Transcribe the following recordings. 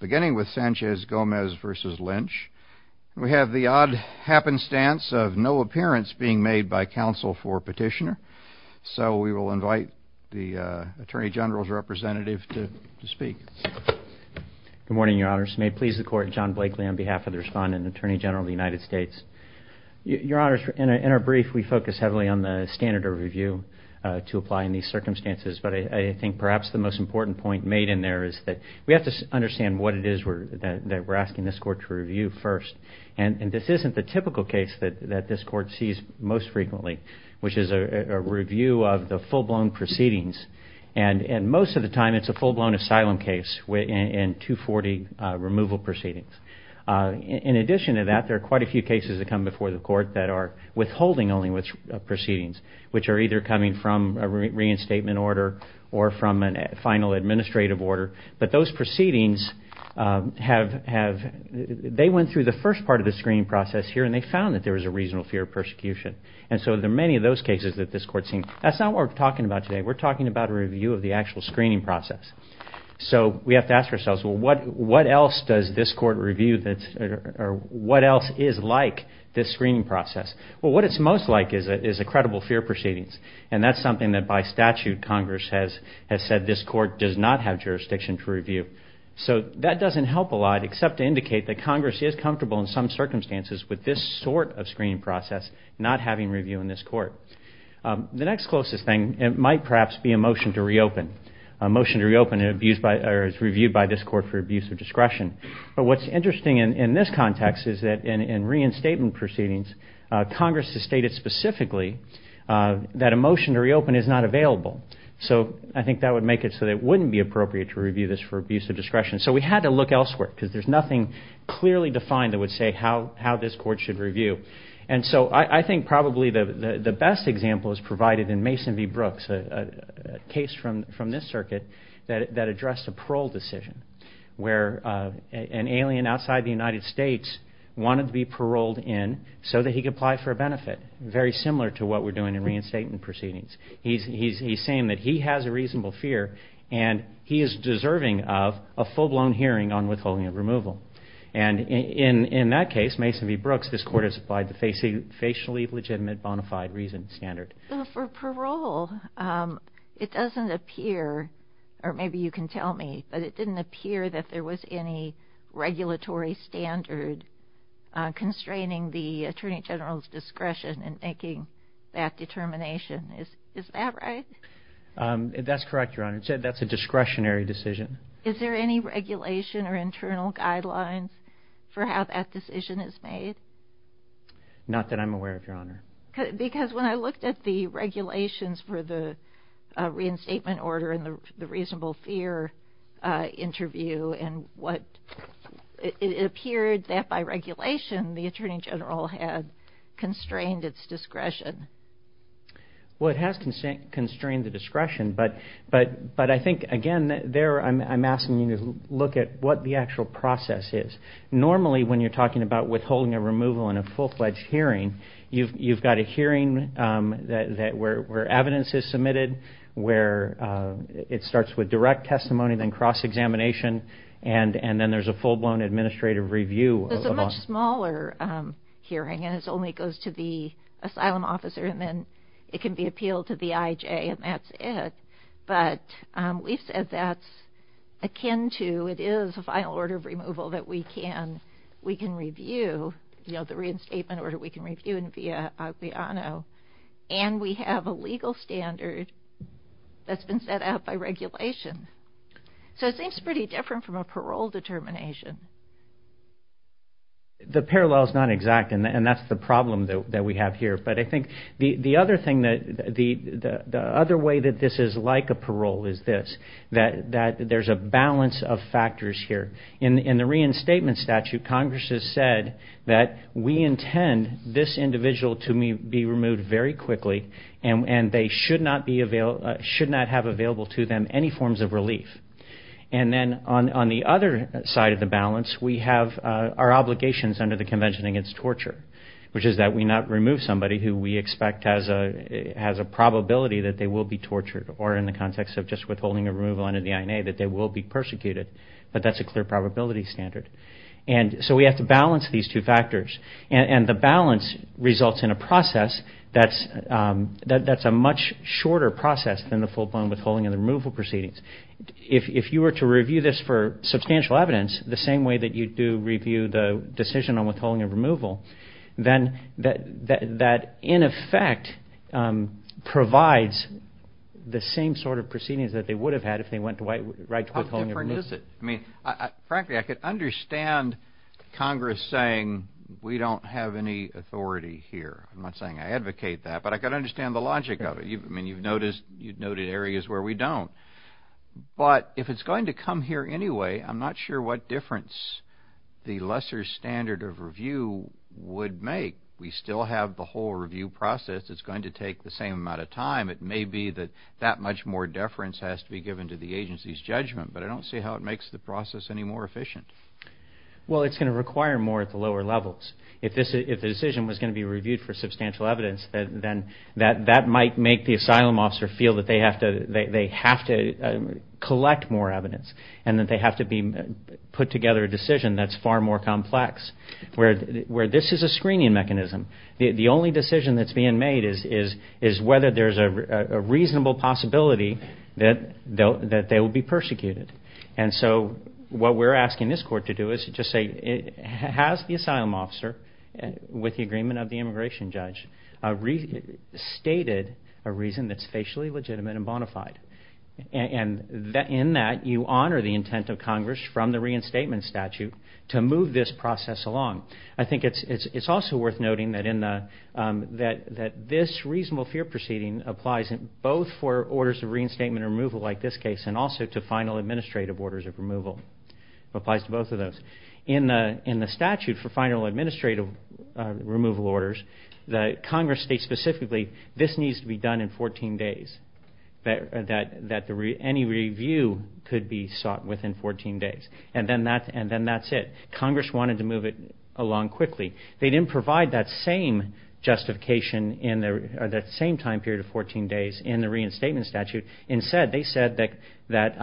Beginning with Sanchez Gomez v. Lynch, we have the odd happenstance of no appearance being made by counsel for petitioner, so we will invite the Attorney General's representative to speak. Good morning, Your Honors. May it please the Court, John Blakely on behalf of the Respondent and Attorney General of the United States. Your Honors, in our brief we focus heavily on the standard of review to apply in these circumstances, but I think perhaps the most important point made in there is that we have to understand what it is that we're asking this Court to review first, and this isn't the typical case that this Court sees most frequently, which is a review of the full-blown proceedings, and most of the time it's a full-blown asylum case and 240 removal proceedings. In addition to that, there are quite a few cases that come before the Court that are withholding only which proceedings, which are either coming from a reinstatement order or from a final administrative order, but those proceedings have, they went through the first part of the screening process here and they found that there was a reasonable fear of persecution, and so there are many of those cases that this Court sees. That's not what we're talking about today. We're talking about a review of the actual screening process, so we have to ask ourselves, well, what else does this Court review that's, or what else is like this screening process? Well, what it's most like is a motion to reopen, and that's something that by statute Congress has said this Court does not have jurisdiction to review. So that doesn't help a lot except to indicate that Congress is comfortable in some circumstances with this sort of screening process not having review in this Court. The next closest thing, it might perhaps be a motion to reopen, a motion to reopen is reviewed by this Court for abuse of discretion, but what's interesting in this context is that in this case, a motion to reopen is not available. So I think that would make it so that it wouldn't be appropriate to review this for abuse of discretion. So we had to look elsewhere because there's nothing clearly defined that would say how this Court should review. And so I think probably the best example is provided in Mason v. Brooks, a case from this circuit that addressed a parole decision where an alien outside the United States wanted to be paroled in so that he could apply for a benefit, very similar to what we're doing in statement proceedings. He's saying that he has a reasonable fear and he is deserving of a full-blown hearing on withholding of removal. And in that case, Mason v. Brooks, this Court has applied the facially legitimate bona fide reason standard. For parole, it doesn't appear, or maybe you can tell me, but it didn't appear that there was any regulatory standard constraining the determination. Is that right? That's correct, Your Honor. It said that's a discretionary decision. Is there any regulation or internal guidelines for how that decision is made? Not that I'm aware of, Your Honor. Because when I looked at the regulations for the reinstatement order and the reasonable fear interview and what it appeared that by regulation, the Attorney General had Well, it has constrained the discretion, but I think, again, there I'm asking you to look at what the actual process is. Normally, when you're talking about withholding a removal in a full-fledged hearing, you've got a hearing where evidence is submitted, where it starts with direct testimony, then cross-examination, and then there's a full-blown administrative review. It's a much smaller hearing and it only goes to the asylum officer and then it can be appealed to the IJ and that's it. But we've said that's akin to, it is a final order of removal that we can review, you know, the reinstatement order we can review via Aguilano, and we have a legal standard that's been set out by regulation. So it seems pretty different from a parole determination. The parallel is not exact and that's the problem that we have here, but I think the other way that this is like a parole is this, that there's a balance of factors here. In the reinstatement statute, Congress has said that we intend this individual to be removed very quickly and they should not have available to them any forms of relief. And then on the other side of the balance, we have our obligations under the Convention against Torture, which is that we not remove somebody who we expect has a probability that they will be tortured, or in the context of just withholding a removal under the INA that they will be persecuted, but that's a clear probability standard. And so we have to balance these two factors and the balance results in a process that's a much shorter process than the full-blown withholding and the removal proceedings. If you were to review this for substantial evidence, the same way that you do review the decision on withholding a removal, then that in effect provides the same sort of proceedings that they would have had if they went right to withholding a removal. How different is it? I mean, frankly, I could understand Congress saying we don't have any authority here. I'm not saying I advocate that, but I could understand the logic of it. I mean, you've noted areas where we don't, but if it's going to come here anyway, I'm not sure what difference the lesser standard of review would make. We still have the whole review process. It's going to take the same amount of time. It may be that that much more deference has to be given to the agency's judgment, but I don't see how it makes the process any more efficient. Well, it's going to require more at the lower levels. If the decision was going to be reviewed for substantial evidence, then that might make the asylum officer feel that they have to collect more evidence and that they have to put together a decision that's far more complex, where this is a screening mechanism. The only decision that's being made is whether there's a reasonable possibility that they will be persecuted. And so what we're asking this Court to do is to just say, has the asylum officer, with the agreement of the immigration judge, stated a reason that's of Congress from the reinstatement statute to move this process along? I think it's also worth noting that this reasonable fear proceeding applies in both for orders of reinstatement removal, like this case, and also to final administrative orders of removal. It applies to both of those. In the statute for final administrative removal orders, Congress states specifically this needs to be done in 14 days, that any review could be sought within 14 days. And then that's it. Congress wanted to move it along quickly. They didn't provide that same justification in that same time period of 14 days in the reinstatement statute. Instead, they said that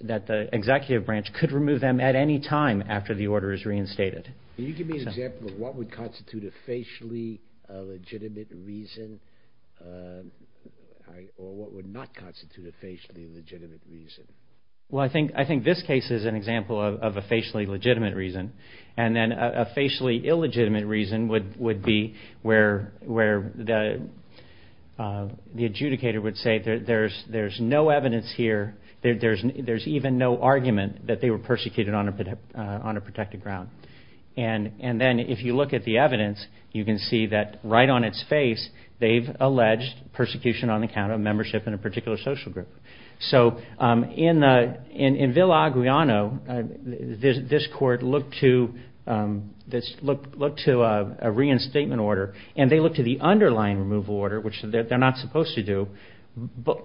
the executive branch could remove them at any time after the order is reinstated. Can you give me an example of what would constitute a facially legitimate reason? Well, I think this case is an example of a facially legitimate reason. And then a facially illegitimate reason would be where the adjudicator would say, there's no evidence here, there's even no argument that they were persecuted on a protected ground. And then if you look at the evidence, you can see that right on its face, they've alleged persecution on account of membership in a particular social group. So in Villa Aguiano, this court looked to a reinstatement order, and they looked to the underlying removal order, which they're not supposed to do,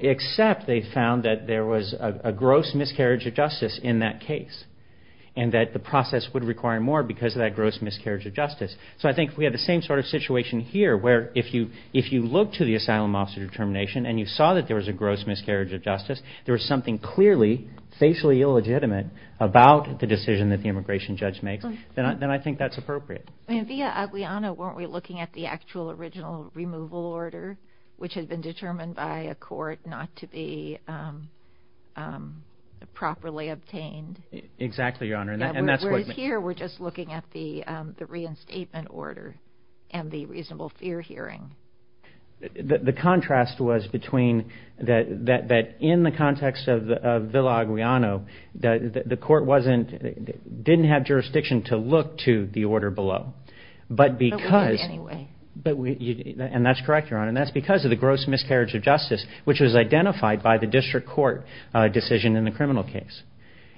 except they found that there was a gross miscarriage of justice in that case, and that the process would require more because of that gross miscarriage of justice. So I think we have the same sort of situation here, where if you look to the asylum officer determination and you saw that there was a gross miscarriage of justice, there was something clearly facially illegitimate about the decision that the immigration judge makes, then I think that's appropriate. In Villa Aguiano, weren't we looking at the actual original removal order, which had been determined by a court not to be properly obtained? Exactly, Your Honor. And that's what... Whereas here, we're just looking at the reinstatement order and the reasonable fear hearing. The contrast was between that in the context of Villa Aguiano, the court didn't have jurisdiction to look to the order below, but because... But we did anyway. And that's correct, Your Honor, and that's because of the gross miscarriage of justice, which was identified by the district court decision in the criminal case.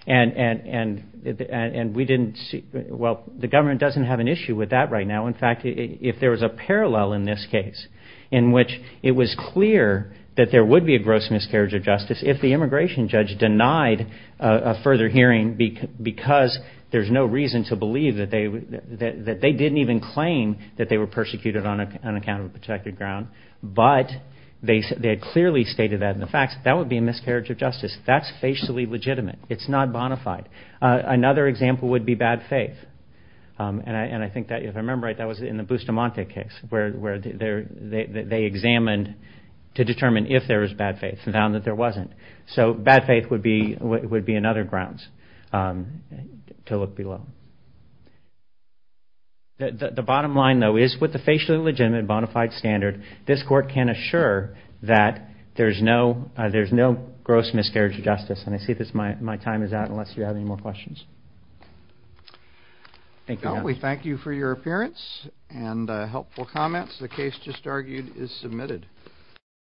And we didn't see... Well, the government doesn't have an issue with that right now. In fact, if there was a parallel in this case, in which it was clear that there would be a gross miscarriage of justice, if the immigration judge denied a further hearing because there's no reason to believe that they didn't even claim that they were persecuted on an account of a protected ground, but they had clearly stated that in the facts, that would be a miscarriage of justice. That's facially legitimate. It's not bona fide. Another example would be bad faith. And I think that, if I remember right, that was in the Bustamante case, where they examined to determine if there was bad faith and found that there wasn't. So bad faith would be another grounds to look below. The bottom line, though, is with the facially legitimate bona fide standard, this court can assure that there's no gross miscarriage of justice. And I see that my time is out, unless you have any more questions. Thank you. Well, we thank you for your appearance and helpful comments. The case just argued is submitted.